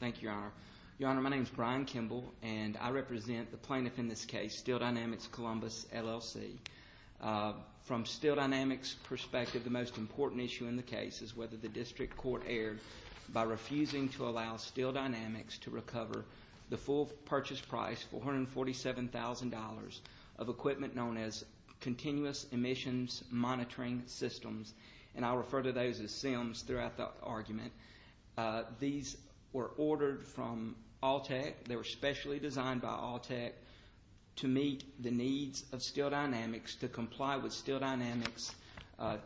Thank you, Your Honor. Your Honor, my name is Brian Kimble, and I represent the plaintiff in this case, Steel Dynamics Columbus, LLC. From Steel Dynamics' perspective, the most important issue in the case is whether the district court erred by refusing to allow Steel Dynamics to recover the full purchase price, $447,000, of equipment known as Continuous Emissions Monitoring Systems. And I'll refer to those as SIMs throughout the argument. These were ordered from Altech. They were specially designed by Altech to meet the needs of Steel Dynamics to comply with Steel Dynamics'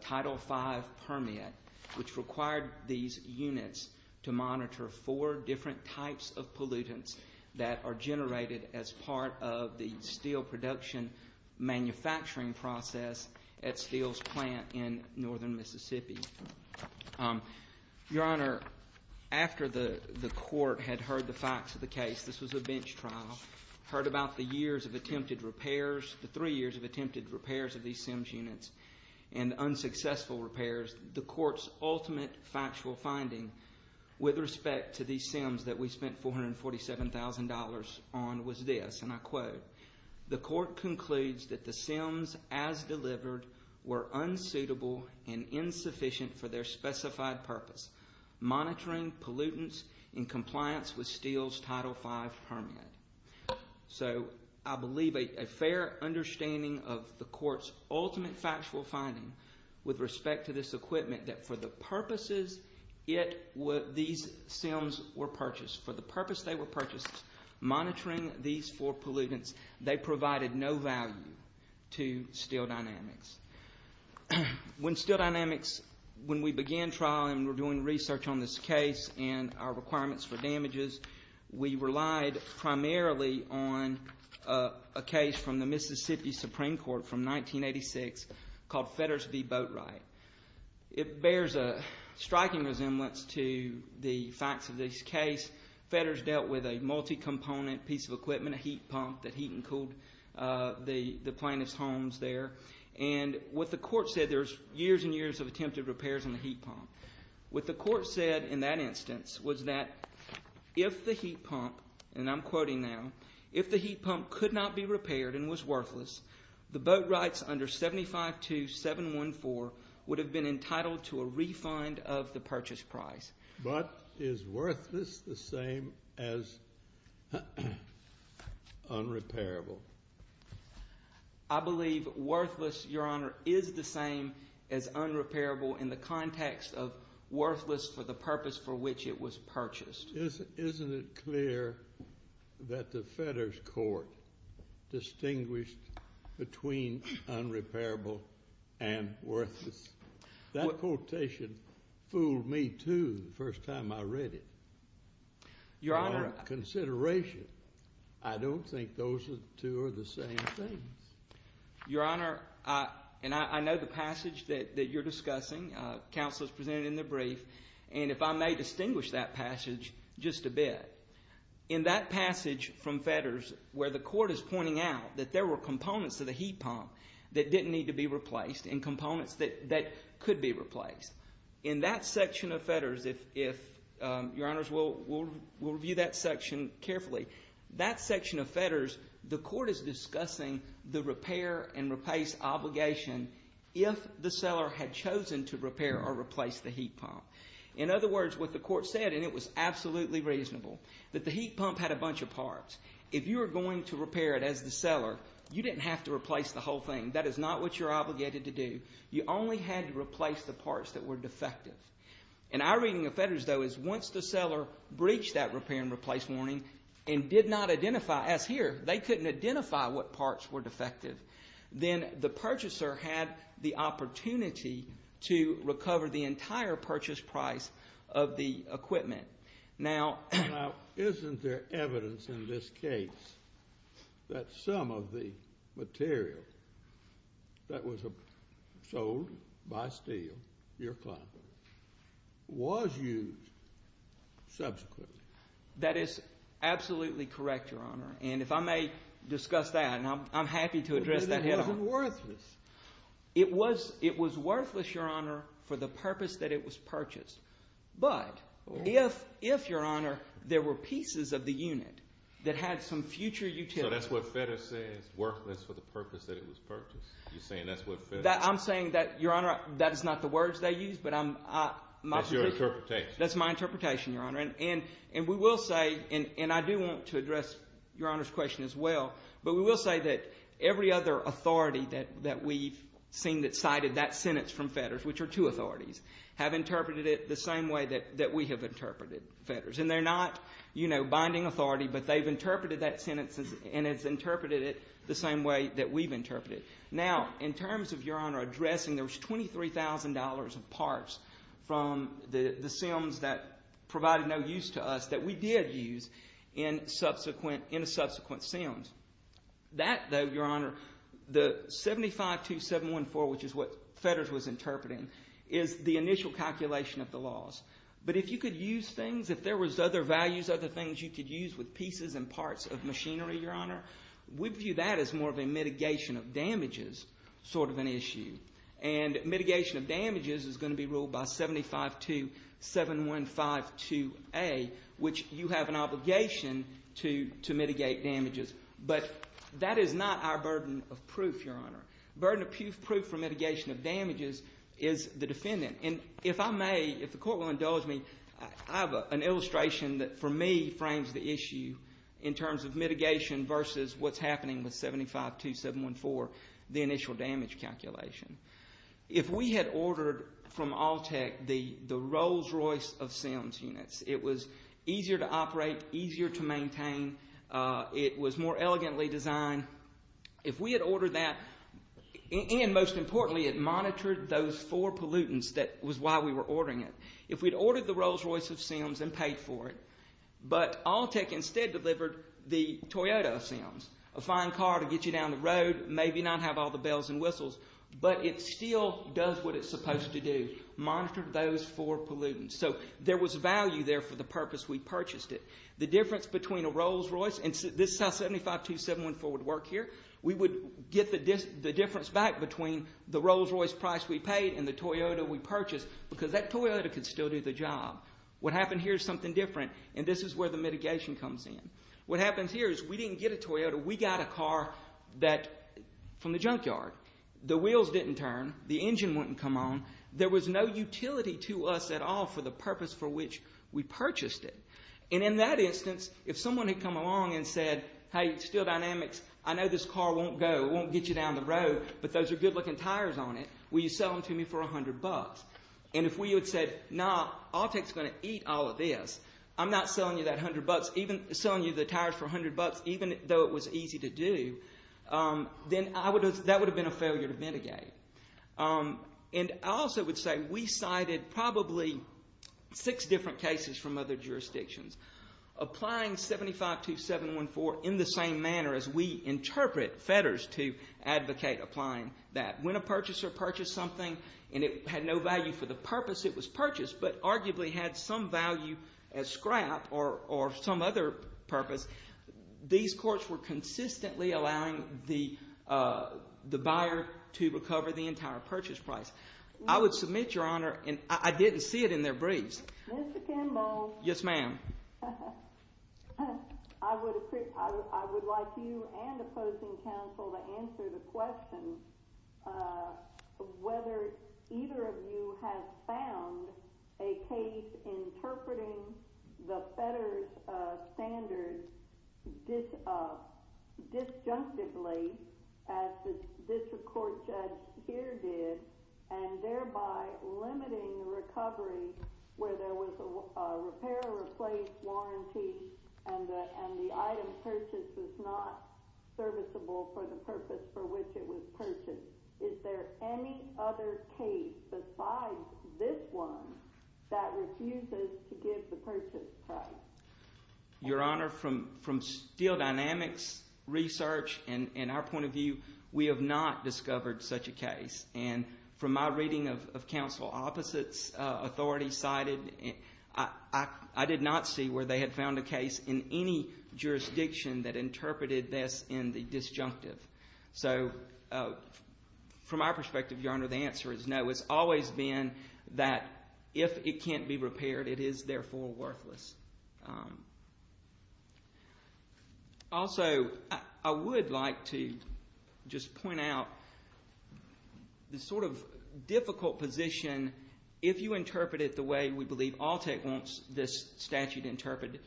Title V permit, which required these units to monitor four different types of pollutants that are generated as part of the steel production manufacturing process at Steel's plant in northern Mississippi. Your Honor, after the court had heard the facts of the case, this was a bench trial, heard about the years of attempted repairs, the three years of attempted repairs of these SIMs units, and unsuccessful repairs, the court's ultimate factual finding with respect to these SIMs that we spent $447,000 on was this, and I quote, the court concludes that the SIMs as delivered were unsuitable and insufficient for their specified purpose, monitoring pollutants in compliance with Steel's Title V permit. So I believe a fair understanding of the court's ultimate factual finding with respect to this equipment that for the purposes these SIMs were purchased, for the purpose they were purchased, monitoring these four pollutants, they provided no value to Steel Dynamics. When Steel Dynamics, when we began trial and were doing research on this case and our requirements for damages, we relied primarily on a case from the Mississippi Supreme Court from 1986 called Fetters v. Boatwright. It bears a striking resemblance to the facts of this case. Fetters dealt with a multi-component piece of equipment, a heat pump that heat and cooled the plaintiff's homes there. And what the court said, there's years and years of attempted repairs on the heat pump. What the court said in that instance was that if the heat pump, and I'm quoting now, if the heat pump could not be repaired and was worthless, the Boatwrights under 752714 would have been entitled to a refund of the purchase price. But is worthless the same as unrepairable? I believe worthless, Your Honor, is the same as unrepairable in the context of worthless for the purpose for which it was purchased. Isn't it clear that the Fetters court distinguished between unrepairable and worthless? That quotation fooled me, too, the first time I read it. Your Honor. I had consideration. I don't think those two are the same thing. Your Honor, and I know the passage that you're discussing. Counsel is presenting in the brief. And if I may distinguish that passage just a bit. In that passage from Fetters where the court is pointing out that there were components of the heat pump that didn't need to be replaced and components that could be replaced. In that section of Fetters, if Your Honor, we'll review that section carefully. That section of Fetters, the court is discussing the repair and replace obligation if the seller had chosen to repair or replace the heat pump. In other words, what the court said, and it was absolutely reasonable, that the heat pump had a bunch of parts. If you were going to repair it as the seller, you didn't have to replace the whole thing. That is not what you're obligated to do. You only had to replace the parts that were defective. And our reading of Fetters, though, is once the seller breached that repair and replace warning and did not identify, as here, they couldn't identify what parts were defective, then the purchaser had the opportunity to recover the entire purchase price of the equipment. Now, isn't there evidence in this case that some of the material that was sold by Steele, your client, was used subsequently? That is absolutely correct, Your Honor. And if I may discuss that, and I'm happy to address that. But it wasn't worthless. It was worthless, Your Honor, for the purpose that it was purchased. But if, Your Honor, there were pieces of the unit that had some future utility— So that's what Fetters says, worthless for the purpose that it was purchased. You're saying that's what Fetters— I'm saying that, Your Honor, that is not the words they used, but I'm— That's your interpretation. That's my interpretation, Your Honor. And we will say, and I do want to address Your Honor's question as well, but we will say that every other authority that we've seen that cited that sentence from Fetters, which are two authorities, have interpreted it the same way that we have interpreted Fetters. And they're not, you know, binding authority, but they've interpreted that sentence, and it's interpreted it the same way that we've interpreted it. Now, in terms of, Your Honor, addressing, there was $23,000 of parts from the Sims that provided no use to us that we did use in subsequent—in subsequent Sims. That, though, Your Honor, the 752714, which is what Fetters was interpreting, is the initial calculation of the loss. But if you could use things, if there was other values, other things you could use with pieces and parts of machinery, Your Honor, we view that as more of a mitigation of damages sort of an issue. And mitigation of damages is going to be ruled by 7527152A, which you have an obligation to mitigate damages. But that is not our burden of proof, Your Honor. Burden of proof for mitigation of damages is the defendant. And if I may, if the Court will indulge me, I have an illustration that, for me, frames the issue in terms of mitigation versus what's happening with 752714, the initial damage calculation. If we had ordered from Alltech the Rolls-Royce of Sims units, it was easier to operate, easier to maintain. It was more elegantly designed. If we had ordered that, and most importantly, it monitored those four pollutants. That was why we were ordering it. If we had ordered the Rolls-Royce of Sims and paid for it, but Alltech instead delivered the Toyota of Sims, a fine car to get you down the road, maybe not have all the bells and whistles, but it still does what it's supposed to do, monitor those four pollutants. So there was value there for the purpose we purchased it. The difference between a Rolls-Royce, and this is how 752714 would work here. We would get the difference back between the Rolls-Royce price we paid and the Toyota we purchased because that Toyota could still do the job. What happened here is something different, and this is where the mitigation comes in. What happens here is we didn't get a Toyota. We got a car from the junkyard. The wheels didn't turn. The engine wouldn't come on. There was no utility to us at all for the purpose for which we purchased it. And in that instance, if someone had come along and said, hey, Steel Dynamics, I know this car won't go, it won't get you down the road, but those are good-looking tires on it. Will you sell them to me for $100? And if we had said, nah, Alltech's going to eat all of this, I'm not selling you the tires for $100 even though it was easy to do, then that would have been a failure to mitigate. And I also would say we cited probably six different cases from other jurisdictions. Applying 752714 in the same manner as we interpret fetters to advocate applying that. When a purchaser purchased something and it had no value for the purpose it was purchased but arguably had some value as scrap or some other purpose, these courts were consistently allowing the buyer to recover the entire purchase price. I would submit, Your Honor, and I didn't see it in their briefs. Mr. Kimball. Yes, ma'am. I would like you and opposing counsel to answer the question of whether either of you have found a case interpreting the fetters standards disjunctively, as this court judge here did, and thereby limiting recovery where there was a repair or replace warranty and the item purchased was not serviceable for the purpose for which it was purchased. Is there any other case besides this one that refuses to give the purchase price? Your Honor, from steel dynamics research and our point of view, we have not discovered such a case. And from my reading of counsel opposites, authorities cited, I did not see where they had found a case in any jurisdiction that interpreted this in the disjunctive. So from our perspective, Your Honor, the answer is no. It's always been that if it can't be repaired, it is therefore worthless. Also, I would like to just point out the sort of difficult position, if you interpret it the way we believe ALTEC wants this statute interpreted,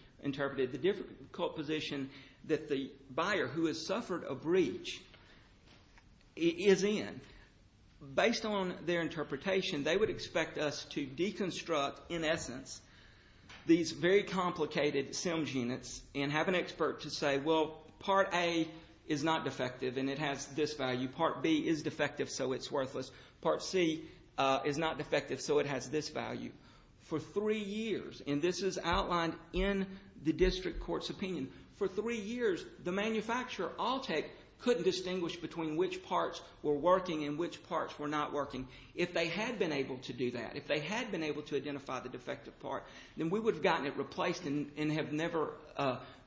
the difficult position that the buyer who has suffered a breach is in. Based on their interpretation, they would expect us to deconstruct, in essence, these very complicated SEMS units and have an expert to say, well, Part A is not defective and it has this value. Part B is defective, so it's worthless. Part C is not defective, so it has this value. For three years, and this is outlined in the district court's opinion, for three years, the manufacturer, ALTEC, couldn't distinguish between which parts were working and which parts were not working. If they had been able to do that, if they had been able to identify the defective part, then we would have gotten it replaced and have never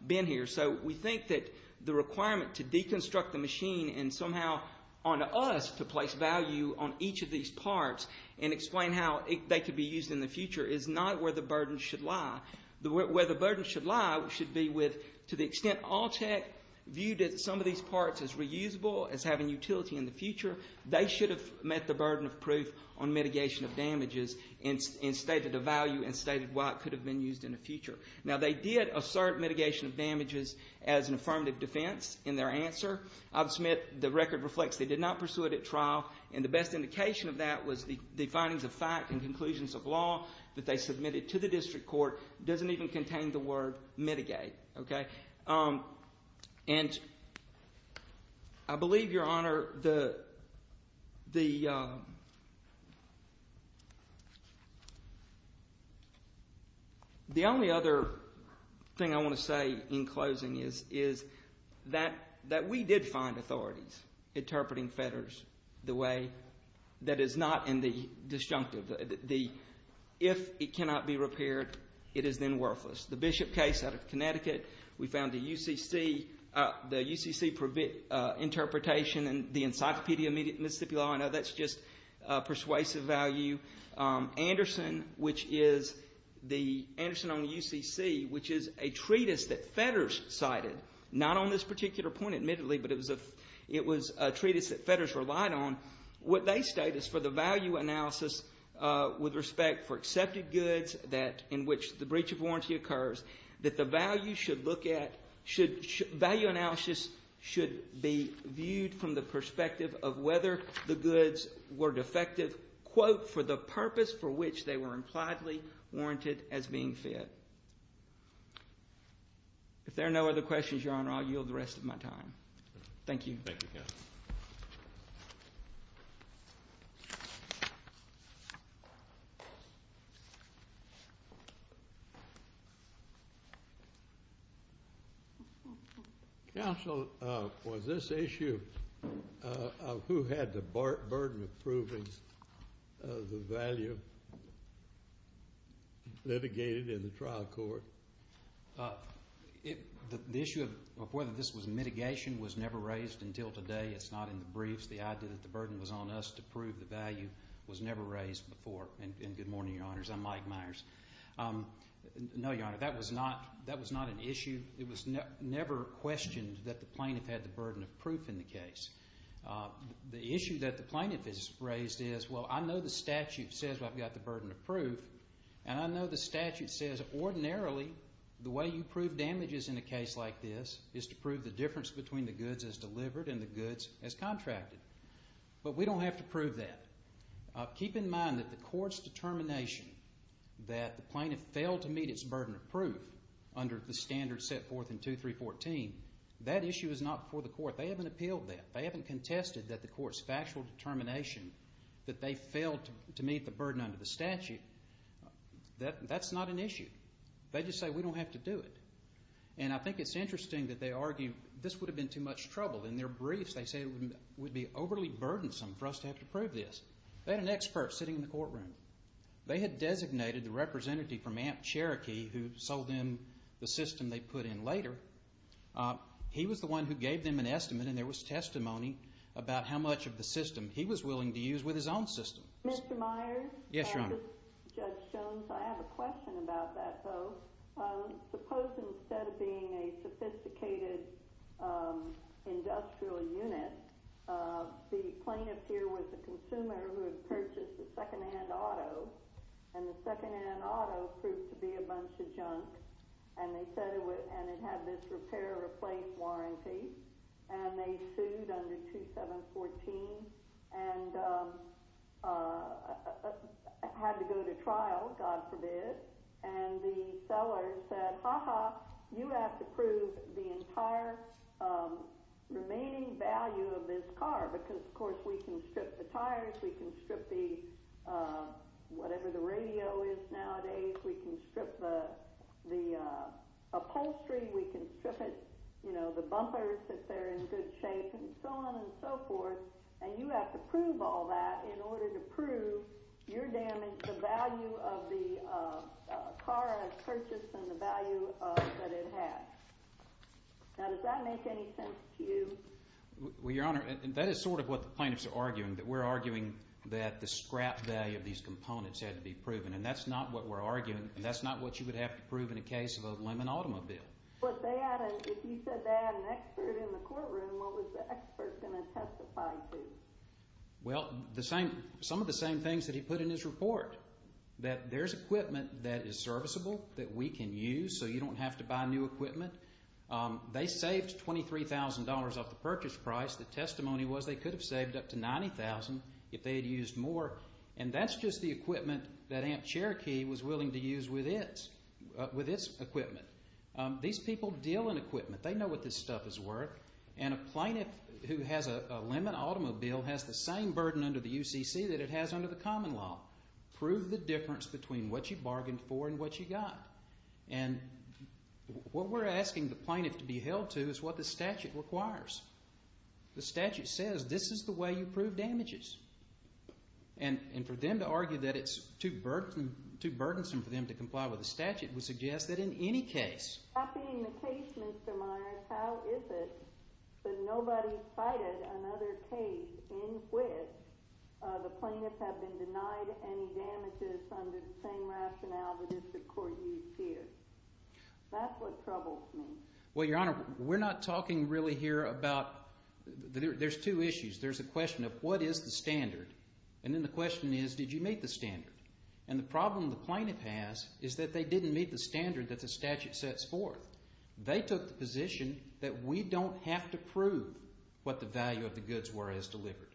been here. So we think that the requirement to deconstruct the machine and somehow on us to place value on each of these parts and explain how they could be used in the future is not where the burden should lie. Where the burden should lie should be with, to the extent ALTEC viewed some of these parts as reusable, as having utility in the future, they should have met the burden of proof on mitigation of damages and stated the value and stated why it could have been used in the future. Now, they did assert mitigation of damages as an affirmative defense in their answer. The record reflects they did not pursue it at trial, and the best indication of that was the findings of fact and conclusions of law that they submitted to the district court doesn't even contain the word mitigate, okay? And I believe, Your Honor, the only other thing I want to say in closing is that we did find authorities interpreting fetters the way that is not in the disjunctive. If it cannot be repaired, it is then worthless. The Bishop case out of Connecticut, we found the UCC interpretation and the Encyclopedia Mississippi Law, I know that's just persuasive value. Anderson, which is the Anderson on the UCC, which is a treatise that fetters cited, not on this particular point, admittedly, but it was a treatise that fetters relied on, what they state is for the value analysis with respect for accepted goods in which the breach of warranty occurs, that the value should look at, value analysis should be viewed from the perspective of whether the goods were defective, quote, for the purpose for which they were impliedly warranted as being fit. If there are no other questions, Your Honor, I'll yield the rest of my time. Thank you. Thank you, Counsel. Counsel, was this issue of who had the burden of proving the value litigated in the trial court? The issue of whether this was mitigation was never raised until today. It's not in the briefs. The idea that the burden was on us to prove the value was never raised before. And good morning, Your Honors. I'm Mike Myers. No, Your Honor, that was not an issue. It was never questioned that the plaintiff had the burden of proof in the case. The issue that the plaintiff has raised is, well, I know the statute says I've got the burden of proof, and I know the statute says ordinarily the way you prove damages in a case like this is to prove the difference between the goods as delivered and the goods as contracted. But we don't have to prove that. Keep in mind that the court's determination that the plaintiff failed to meet its burden of proof under the standards set forth in 2314, that issue is not before the court. They haven't appealed that. They haven't contested that the court's factual determination that they failed to meet the burden under the statute. That's not an issue. They just say we don't have to do it. And I think it's interesting that they argue this would have been too much trouble. In their briefs, they say it would be overly burdensome for us to have to prove this. They had an expert sitting in the courtroom. They had designated the representative from Amt Cherokee who sold them the system they put in later. He was the one who gave them an estimate, and there was testimony about how much of the system he was willing to use with his own system. Mr. Myers? Yes, Your Honor. Judge Jones, I have a question about that, though. Suppose instead of being a sophisticated industrial unit, the plaintiff here was a consumer who had purchased a secondhand auto, and the secondhand auto proved to be a bunch of junk, and it had this repair-replace warranty, and they sued under 2714 and had to go to trial, God forbid, and the seller said, Ha ha, you have to prove the entire remaining value of this car, because, of course, we can strip the tires. We can strip whatever the radio is nowadays. We can strip the upholstery. We can strip it, you know, the bumpers, if they're in good shape, and so on and so forth, and you have to prove all that in order to prove your damage, the value of the car I purchased, and the value that it had. Now, does that make any sense to you? Well, Your Honor, that is sort of what the plaintiffs are arguing, that we're arguing that the scrap value of these components had to be proven, and that's not what we're arguing, and that's not what you would have to prove in a case of a lemon automobile. But they added, if you said they had an expert in the courtroom, what was the expert going to testify to? Well, some of the same things that he put in his report, that there's equipment that is serviceable, that we can use, so you don't have to buy new equipment. They saved $23,000 off the purchase price. The testimony was they could have saved up to $90,000 if they had used more, and that's just the equipment that Amt Cherokee was willing to use with its equipment. These people deal in equipment. They know what this stuff is worth, and a plaintiff who has a lemon automobile has the same burden under the UCC that it has under the common law. Prove the difference between what you bargained for and what you got. And what we're asking the plaintiff to be held to is what the statute requires. The statute says this is the way you prove damages. And for them to argue that it's too burdensome for them to comply with the statute would suggest that in any case. Not being the case, Mr. Myers, how is it that nobody cited another case in which the plaintiffs have been denied any damages under the same rationale that the district court used here? That's what troubles me. Well, Your Honor, we're not talking really here about there's two issues. There's the question of what is the standard, and then the question is did you meet the standard. And the problem the plaintiff has is that they didn't meet the standard that the statute sets forth. They took the position that we don't have to prove what the value of the goods were as delivered.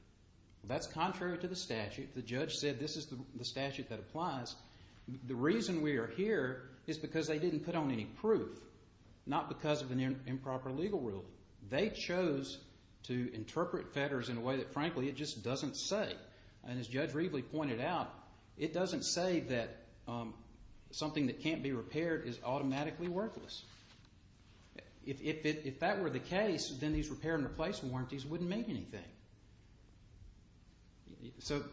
That's contrary to the statute. The judge said this is the statute that applies. The reason we are here is because they didn't put on any proof, not because of an improper legal rule. They chose to interpret fetters in a way that, frankly, it just doesn't say. And as Judge Reveley pointed out, it doesn't say that something that can't be repaired is automatically worthless. If that were the case, then these repair and replacement warranties wouldn't mean anything. So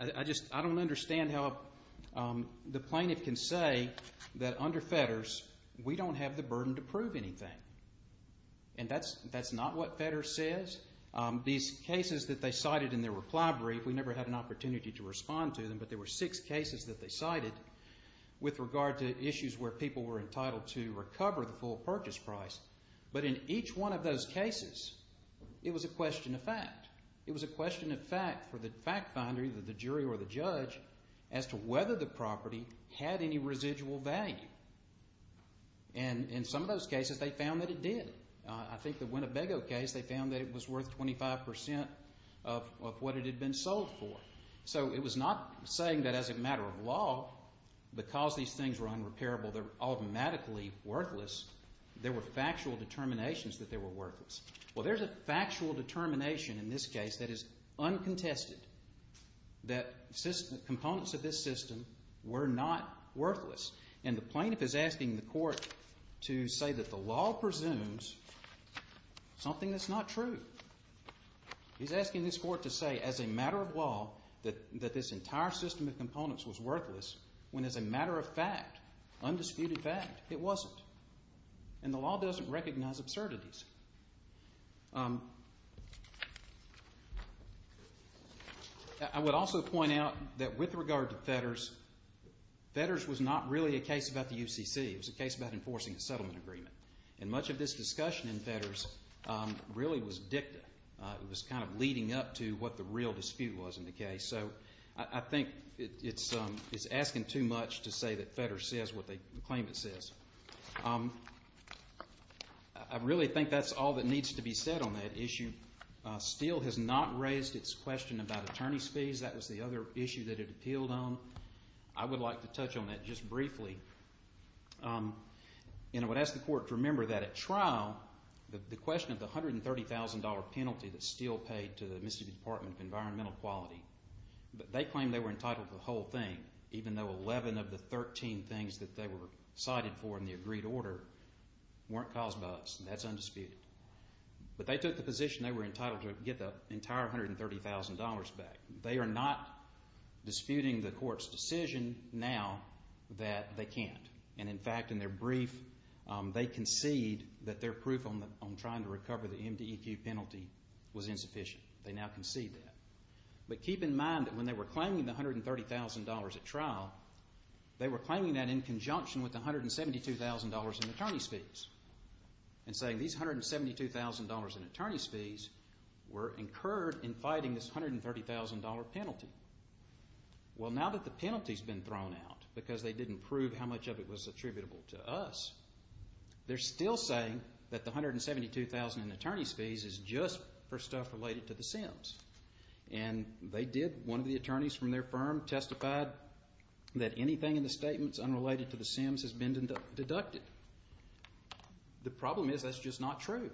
I don't understand how the plaintiff can say that under fetters we don't have the burden to prove anything. And that's not what fetters says. These cases that they cited in their reply brief, we never had an opportunity to respond to them, but there were six cases that they cited with regard to issues where people were entitled to recover the full purchase price. But in each one of those cases, it was a question of fact. It was a question of fact for the fact finder, either the jury or the judge, as to whether the property had any residual value. And in some of those cases, they found that it did. I think the Winnebago case, they found that it was worth 25% of what it had been sold for. So it was not saying that as a matter of law, because these things were unrepairable, they're automatically worthless. There were factual determinations that they were worthless. Well, there's a factual determination in this case that is uncontested, that components of this system were not worthless. And the plaintiff is asking the court to say that the law presumes something that's not true. He's asking this court to say as a matter of law that this entire system of components was worthless, when as a matter of fact, undisputed fact, it wasn't. And the law doesn't recognize absurdities. I would also point out that with regard to Fetters, Fetters was not really a case about the UCC. It was a case about enforcing a settlement agreement. And much of this discussion in Fetters really was dicta. It was kind of leading up to what the real dispute was in the case. So I think it's asking too much to say that Fetters says what they claim it says. I really think that's all that needs to be said on that issue. Steele has not raised its question about attorney's fees. That was the other issue that it appealed on. I would like to touch on that just briefly. The question of the $130,000 penalty that Steele paid to the Mississippi Department of Environmental Quality, they claim they were entitled to the whole thing, even though 11 of the 13 things that they were cited for in the agreed order weren't caused by us. That's undisputed. But they took the position they were entitled to get the entire $130,000 back. They are not disputing the court's decision now that they can't. And, in fact, in their brief, they concede that their proof on trying to recover the MDEQ penalty was insufficient. They now concede that. But keep in mind that when they were claiming the $130,000 at trial, they were claiming that in conjunction with the $172,000 in attorney's fees and saying these $172,000 in attorney's fees were incurred in fighting this $130,000 penalty. Well, now that the penalty's been thrown out because they didn't prove how much of it was attributable to us, they're still saying that the $172,000 in attorney's fees is just for stuff related to the Sims. And they did. One of the attorneys from their firm testified that anything in the statements unrelated to the Sims has been deducted. The problem is that's just not true.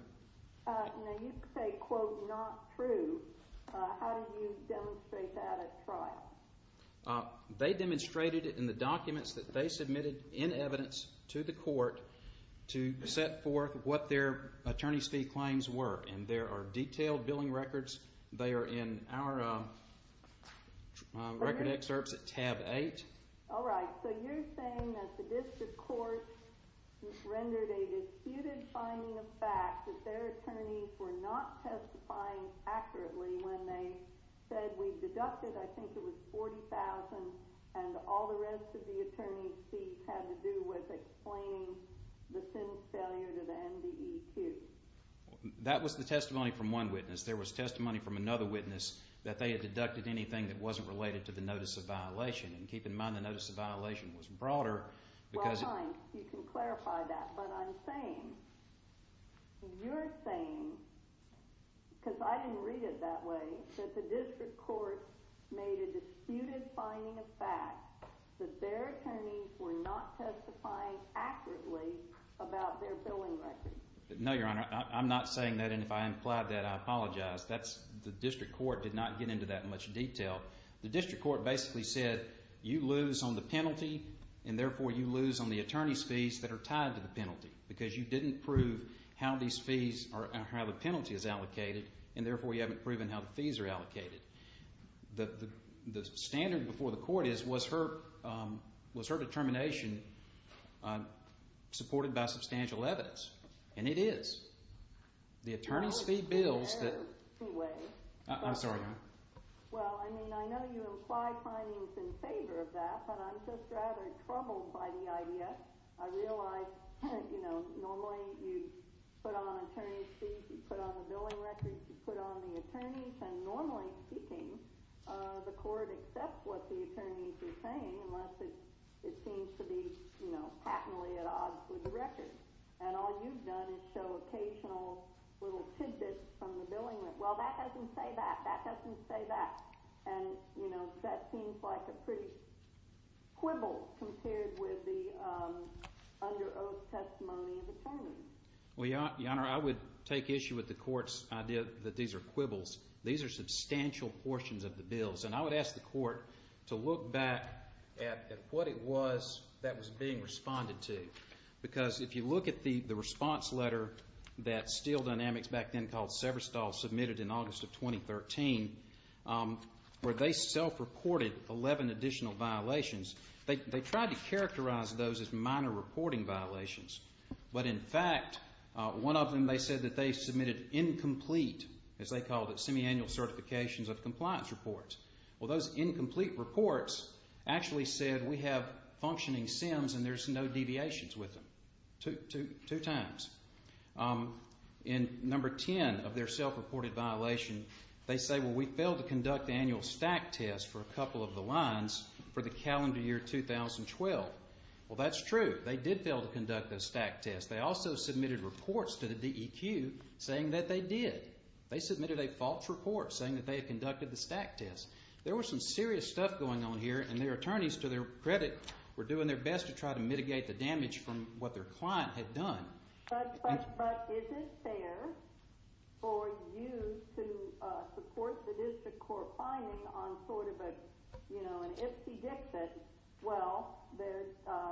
Now, you say, quote, not true. How did you demonstrate that at trial? They demonstrated it in the documents that they submitted in evidence to the court to set forth what their attorney's fee claims were. And there are detailed billing records. They are in our record excerpts at tab 8. All right. So you're saying that the district court rendered a disputed finding of fact that their attorneys were not testifying accurately when they said, we've deducted, I think it was $40,000, and all the rest of the attorney's fees had to do with explaining the Sims failure to the MDEQ. That was the testimony from one witness. There was testimony from another witness that they had deducted anything that wasn't related to the notice of violation. And keep in mind the notice of violation was broader. Well, fine. You can clarify that. But I'm saying, you're saying, because I didn't read it that way, that the district court made a disputed finding of fact that their attorneys were not testifying accurately about their billing records. No, Your Honor. I'm not saying that. And if I implied that, I apologize. The district court did not get into that in much detail. The district court basically said, you lose on the penalty, and therefore you lose on the attorney's fees that are tied to the penalty, because you didn't prove how these fees or how the penalty is allocated, and therefore you haven't proven how the fees are allocated. The standard before the court is, was her determination supported by substantial evidence? And it is. The attorney's fee bills that— No, it was their fee way. I'm sorry, Your Honor. Well, I mean, I know you implied findings in favor of that, but I'm just rather troubled by the idea. I realize, you know, normally you put on attorney's fees, you put on the billing records, you put on the attorneys, and normally speaking, the court accepts what the attorneys are saying unless it seems to be, you know, patently at odds with the records. And all you've done is show occasional little tidbits from the billing. Well, that doesn't say that. That doesn't say that. And, you know, that seems like a pretty quibble compared with the under oath testimony of attorneys. Well, Your Honor, I would take issue with the court's idea that these are quibbles. These are substantial portions of the bills, and I would ask the court to look back at what it was that was being responded to, because if you look at the response letter that Steel Dynamics back then called Severstall submitted in August of 2013, where they self-reported 11 additional violations, they tried to characterize those as minor reporting violations. But, in fact, one of them they said that they submitted incomplete, as they called it, semiannual certifications of compliance reports. Well, those incomplete reports actually said we have functioning SIMs and there's no deviations with them, two times. In number 10 of their self-reported violation, they say, well, we failed to conduct the annual stack test for a couple of the lines for the calendar year 2012. Well, that's true. They did fail to conduct the stack test. They also submitted reports to the DEQ saying that they did. They submitted a false report saying that they had conducted the stack test. There was some serious stuff going on here, and their attorneys, to their credit, were doing their best to try to mitigate the damage from what their client had done. But is it fair for you to support the district court finding on sort of a, you know, an ipsy-dixy, well, they're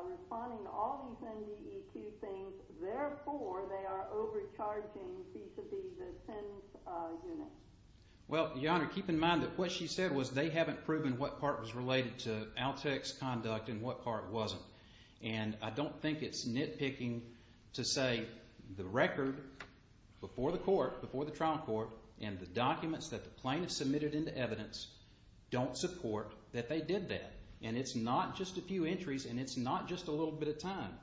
responding to all these NDEQ things, therefore they are overcharging vis-à-vis the SINs unit. Well, Your Honor, keep in mind that what she said was they haven't proven what part was related to ALTC's conduct and what part wasn't. And I don't think it's nitpicking to say the record before the court, before the trial court, and the documents that the plaintiff submitted into evidence don't support that they did that. And it's not just a few entries, and it's not just a little bit of time.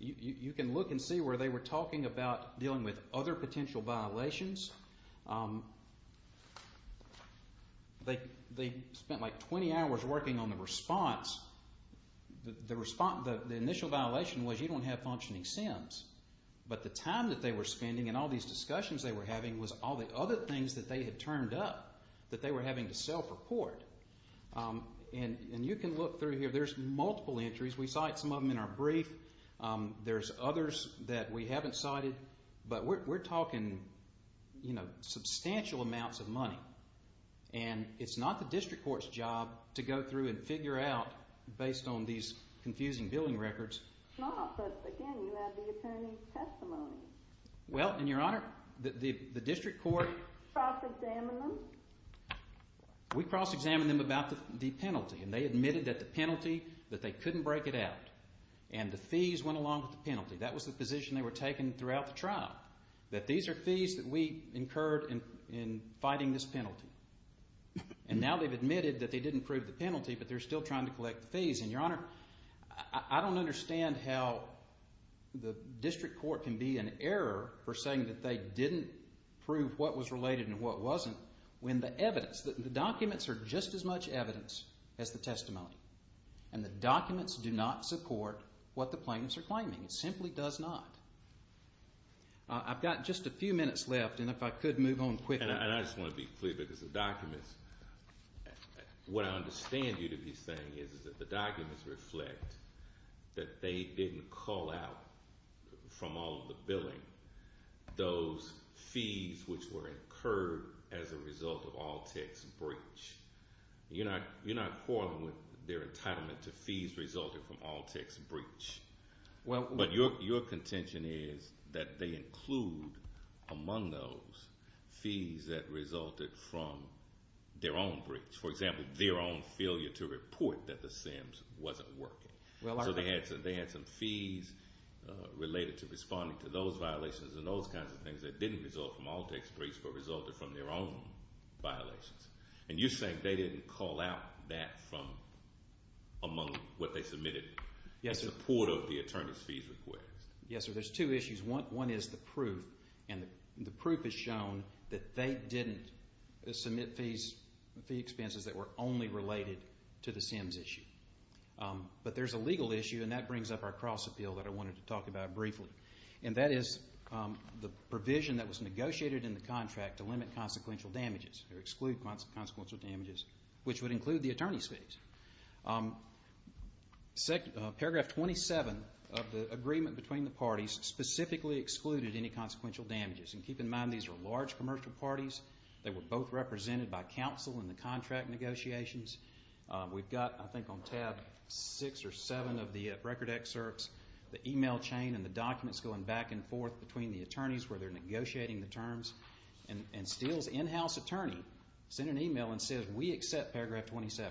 You can look and see where they were talking about dealing with other potential violations. They spent like 20 hours working on the response. The initial violation was you don't have functioning SINs. But the time that they were spending and all these discussions they were having was all the other things that they had turned up that they were having to self-report. And you can look through here. There's multiple entries. We cite some of them in our brief. There's others that we haven't cited. But we're talking, you know, substantial amounts of money. And it's not the district court's job to go through and figure out, based on these confusing billing records. No, but, again, you have the attorney's testimony. Well, in your honor, the district court. Cross-examined them. We cross-examined them about the penalty, and they admitted that the penalty, that they couldn't break it out. And the fees went along with the penalty. That was the position they were taking throughout the trial, that these are fees that we incurred in fighting this penalty. And now they've admitted that they didn't prove the penalty, but they're still trying to collect the fees. And, your honor, I don't understand how the district court can be an error for saying that they didn't prove what was related and what wasn't when the evidence, the documents are just as much evidence as the testimony. And the documents do not support what the plaintiffs are claiming. It simply does not. I've got just a few minutes left, and if I could move on quickly. And I just want to be clear, because the documents, what I understand you to be saying is that the documents reflect that they didn't call out from all of the billing those fees which were incurred as a result of Altec's breach. You're not quarreling with their entitlement to fees resulting from Altec's breach. But your contention is that they include among those fees that resulted from their own breach. For example, their own failure to report that the SIMS wasn't working. So they had some fees related to responding to those violations and those kinds of things that didn't result from Altec's breach but resulted from their own violations. And you're saying they didn't call out that from among what they submitted in support of the attorney's fees request. Yes, sir. There's two issues. One is the proof, and the proof has shown that they didn't submit fees, fee expenses that were only related to the SIMS issue. But there's a legal issue, and that brings up our cross-appeal that I wanted to talk about briefly. And that is the provision that was negotiated in the contract to limit consequential damages or exclude consequential damages, which would include the attorney's fees. Paragraph 27 of the agreement between the parties specifically excluded any consequential damages. And keep in mind these were large commercial parties. They were both represented by counsel in the contract negotiations. We've got, I think, on tab 6 or 7 of the record excerpts, the email chain and the documents going back and forth between the attorneys where they're negotiating the terms. And Steele's in-house attorney sent an email and said, We accept paragraph 27.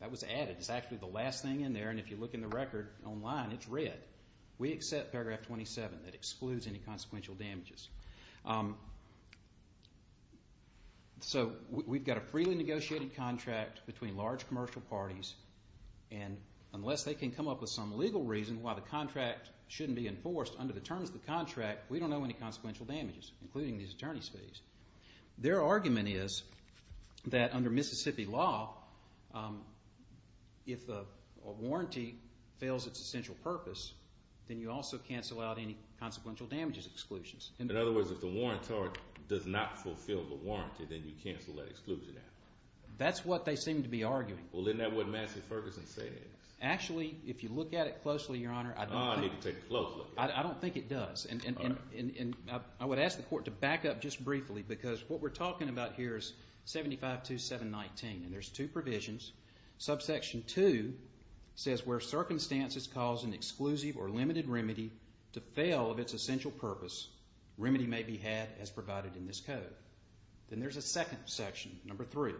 That was added. It's actually the last thing in there, and if you look in the record online, it's red. We accept paragraph 27 that excludes any consequential damages. So we've got a freely negotiated contract between large commercial parties, and unless they can come up with some legal reason why the contract shouldn't be enforced under the terms of the contract, we don't know any consequential damages, including these attorney's fees. Their argument is that under Mississippi law, if a warranty fails its essential purpose, then you also cancel out any consequential damages exclusions. In other words, if the warrant does not fulfill the warranty, then you cancel that exclusion out. That's what they seem to be arguing. Well, isn't that what Madison Ferguson says? Actually, if you look at it closely, Your Honor, I don't think it does. I would ask the Court to back up just briefly, because what we're talking about here is 752719, and there's two provisions. Subsection 2 says, Where circumstances cause an exclusive or limited remedy to fail of its essential purpose, remedy may be had as provided in this code. Then there's a second section, number 3.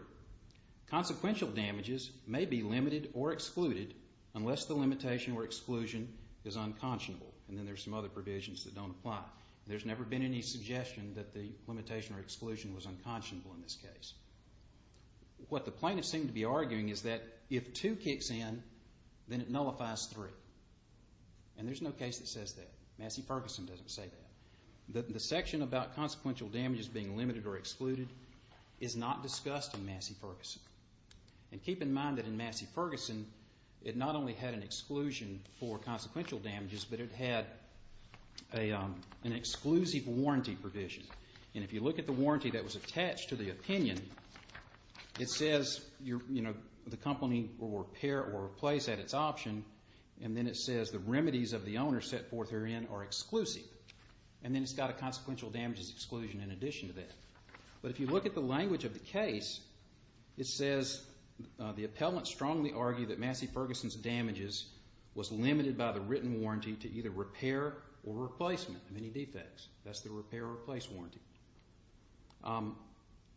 Consequential damages may be limited or excluded unless the limitation or exclusion is unconscionable. And then there's some other provisions that don't apply. There's never been any suggestion that the limitation or exclusion was unconscionable in this case. What the plaintiffs seem to be arguing is that if 2 kicks in, then it nullifies 3. And there's no case that says that. Madison Ferguson doesn't say that. The section about consequential damages being limited or excluded is not discussed in Madison Ferguson. And keep in mind that in Madison Ferguson, it not only had an exclusion for consequential damages, but it had an exclusive warranty provision. And if you look at the warranty that was attached to the opinion, it says the company will repair or replace at its option, and then it says the remedies of the owner set forth therein are exclusive. And then it's got a consequential damages exclusion in addition to that. But if you look at the language of the case, it says the appellant strongly argued that Madison Ferguson's damages was limited by the written warranty to either repair or replacement of any defects. That's the repair or replace warranty.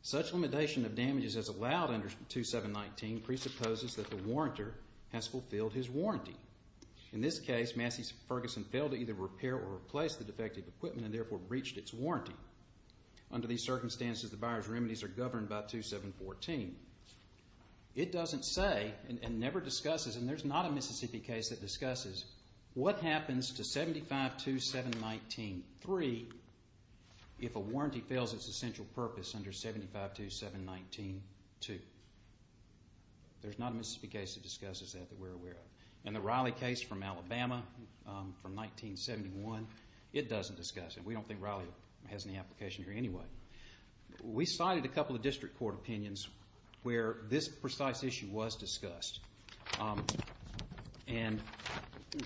Such limitation of damages as allowed under 2719 presupposes that the warrantor has fulfilled his warranty. In this case, Madison Ferguson failed to either repair or replace the defective equipment and therefore breached its warranty. Under these circumstances, the buyer's remedies are governed by 2714. It doesn't say and never discusses, and there's not a Mississippi case that discusses what happens to 752719-3 if a warranty fails its essential purpose under 752719-2. There's not a Mississippi case that discusses that that we're aware of. And the Riley case from Alabama from 1971, it doesn't discuss it. We don't think Riley has any application here anyway. We cited a couple of district court opinions where this precise issue was discussed. And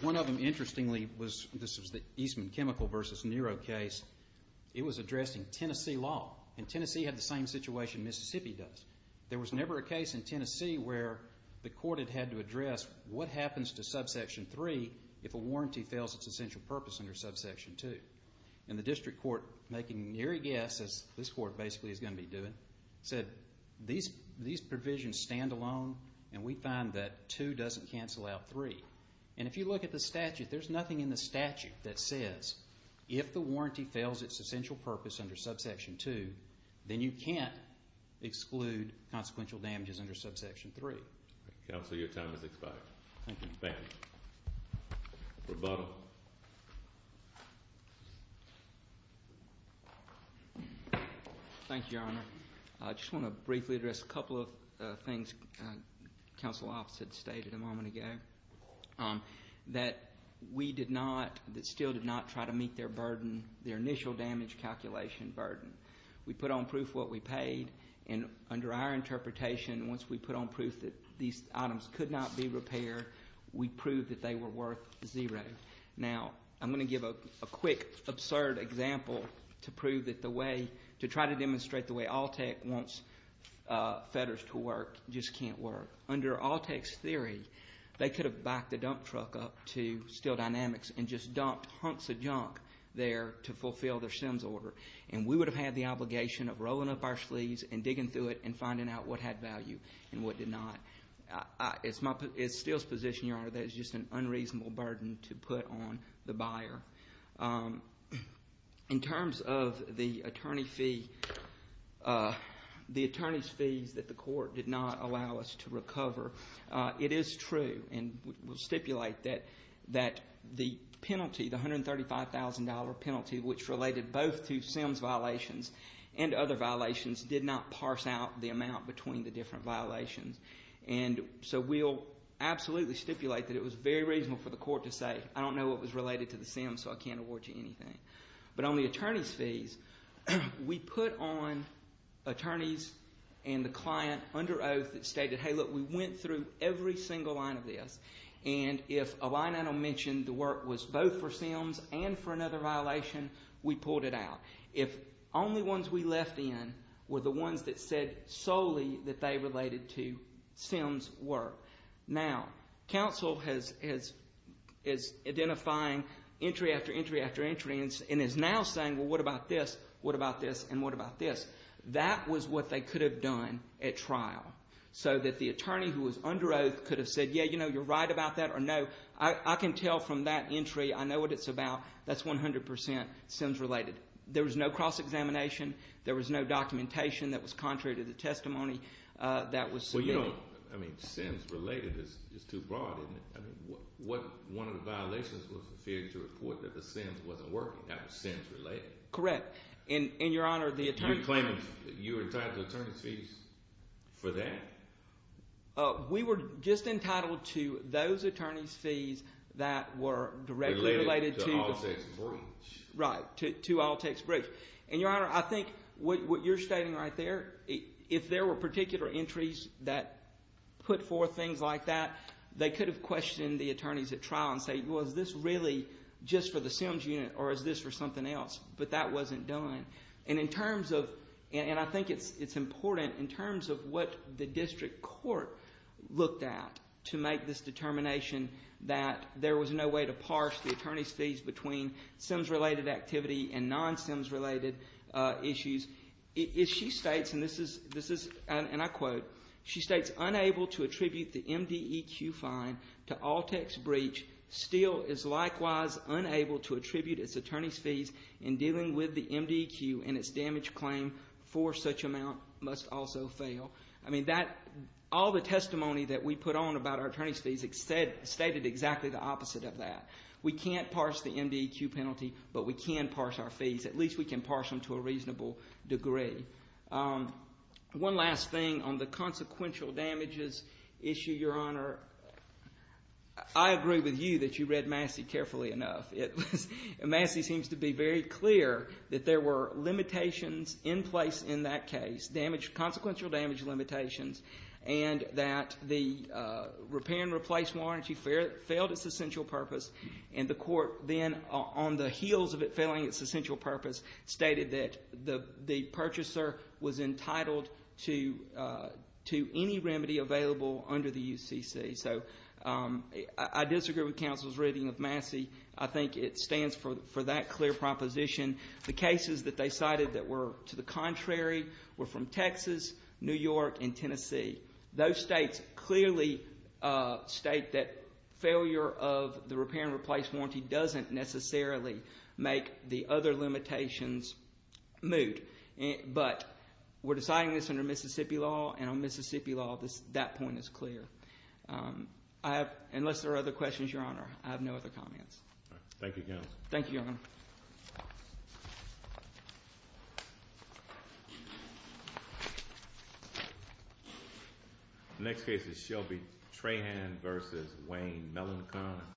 one of them, interestingly, was the Eastman Chemical v. Nero case. It was addressing Tennessee law. And Tennessee had the same situation Mississippi does. There was never a case in Tennessee where the court had had to address what happens to subsection 3 if a warranty fails its essential purpose under subsection 2. And the district court, making neary guesses, this court basically is going to be doing, said these provisions stand alone and we find that 2 doesn't cancel out 3. And if you look at the statute, there's nothing in the statute that says if the warranty fails its essential purpose under subsection 2, then you can't exclude consequential damages under subsection 3. Counsel, your time has expired. Thank you. Thank you. Rebuttal. Thank you, Your Honor. I just want to briefly address a couple of things the counsel office had stated a moment ago, that we did not, that still did not try to meet their burden, their initial damage calculation burden. We put on proof what we paid, and under our interpretation, once we put on proof that these items could not be repaired, we proved that they were worth zero. Now, I'm going to give a quick, absurd example to prove that the way, to try to demonstrate the way ALTEC wants fetters to work just can't work. Under ALTEC's theory, they could have backed the dump truck up to Steel Dynamics and just dumped hunks of junk there to fulfill their SEMS order. And we would have had the obligation of rolling up our sleeves and digging through it and finding out what had value and what did not. It's Steel's position, Your Honor, that it's just an unreasonable burden to put on the buyer. In terms of the attorney fee, the attorney's fees that the court did not allow us to recover, it is true, and we'll stipulate that the penalty, the $135,000 penalty, which related both to SEMS violations and other violations, did not parse out the amount between the different violations. And so we'll absolutely stipulate that it was very reasonable for the court to say, I don't know what was related to the SEMS, so I can't award you anything. But on the attorney's fees, we put on attorneys and the client under oath that stated, hey, look, we went through every single line of this, and if a line I don't mention, the work was both for SEMS and for another violation, we pulled it out. If only ones we left in were the ones that said solely that they related to SEMS work. Now, counsel is identifying entry after entry after entry and is now saying, well, what about this, what about this, and what about this? That was what they could have done at trial so that the attorney who was under oath could have said, yeah, you know, you're right about that, or no. I can tell from that entry, I know what it's about. That's 100 percent SEMS related. There was no cross-examination. There was no documentation that was contrary to the testimony that was submitted. Well, you know, I mean, SEMS related is too broad, isn't it? I mean, one of the violations was the failure to report that the SEMS wasn't working. That was SEMS related. Correct. And, Your Honor, the attorney— You claim you were entitled to attorney's fees for that? We were just entitled to those attorney's fees that were directly related to— Related to all text briefs. Right, to all text briefs. And, Your Honor, I think what you're stating right there, if there were particular entries that put forth things like that, they could have questioned the attorneys at trial and said, well, is this really just for the SEMS unit or is this for something else? But that wasn't done. And in terms of—and I think it's important in terms of what the district court looked at to make this determination that there was no way to parse the attorney's fees between SEMS related activity and non-SEMS related issues. If she states, and this is—and I quote, she states, unable to attribute the MDEQ fine to all text briefs still is likewise unable to attribute its attorney's fees in dealing with the MDEQ and its damage claim for such amount must also fail. I mean, that—all the testimony that we put on about our attorney's fees stated exactly the opposite of that. We can't parse the MDEQ penalty, but we can parse our fees. At least we can parse them to a reasonable degree. One last thing on the consequential damages issue, Your Honor. I agree with you that you read Massey carefully enough. Massey seems to be very clear that there were limitations in place in that case, consequential damage limitations, and that the repair and replace warranty failed its essential purpose. And the court then, on the heels of it failing its essential purpose, stated that the purchaser was entitled to any remedy available under the UCC. So I disagree with counsel's reading of Massey. I think it stands for that clear proposition. The cases that they cited that were to the contrary were from Texas, New York, and Tennessee. Those states clearly state that failure of the repair and replace warranty doesn't necessarily make the other limitations moot. But we're deciding this under Mississippi law, and on Mississippi law, that point is clear. Unless there are other questions, Your Honor, I have no other comments. Thank you, counsel. Thank you, Your Honor. The next case is Shelby Trahan v. Wayne Mellencamp.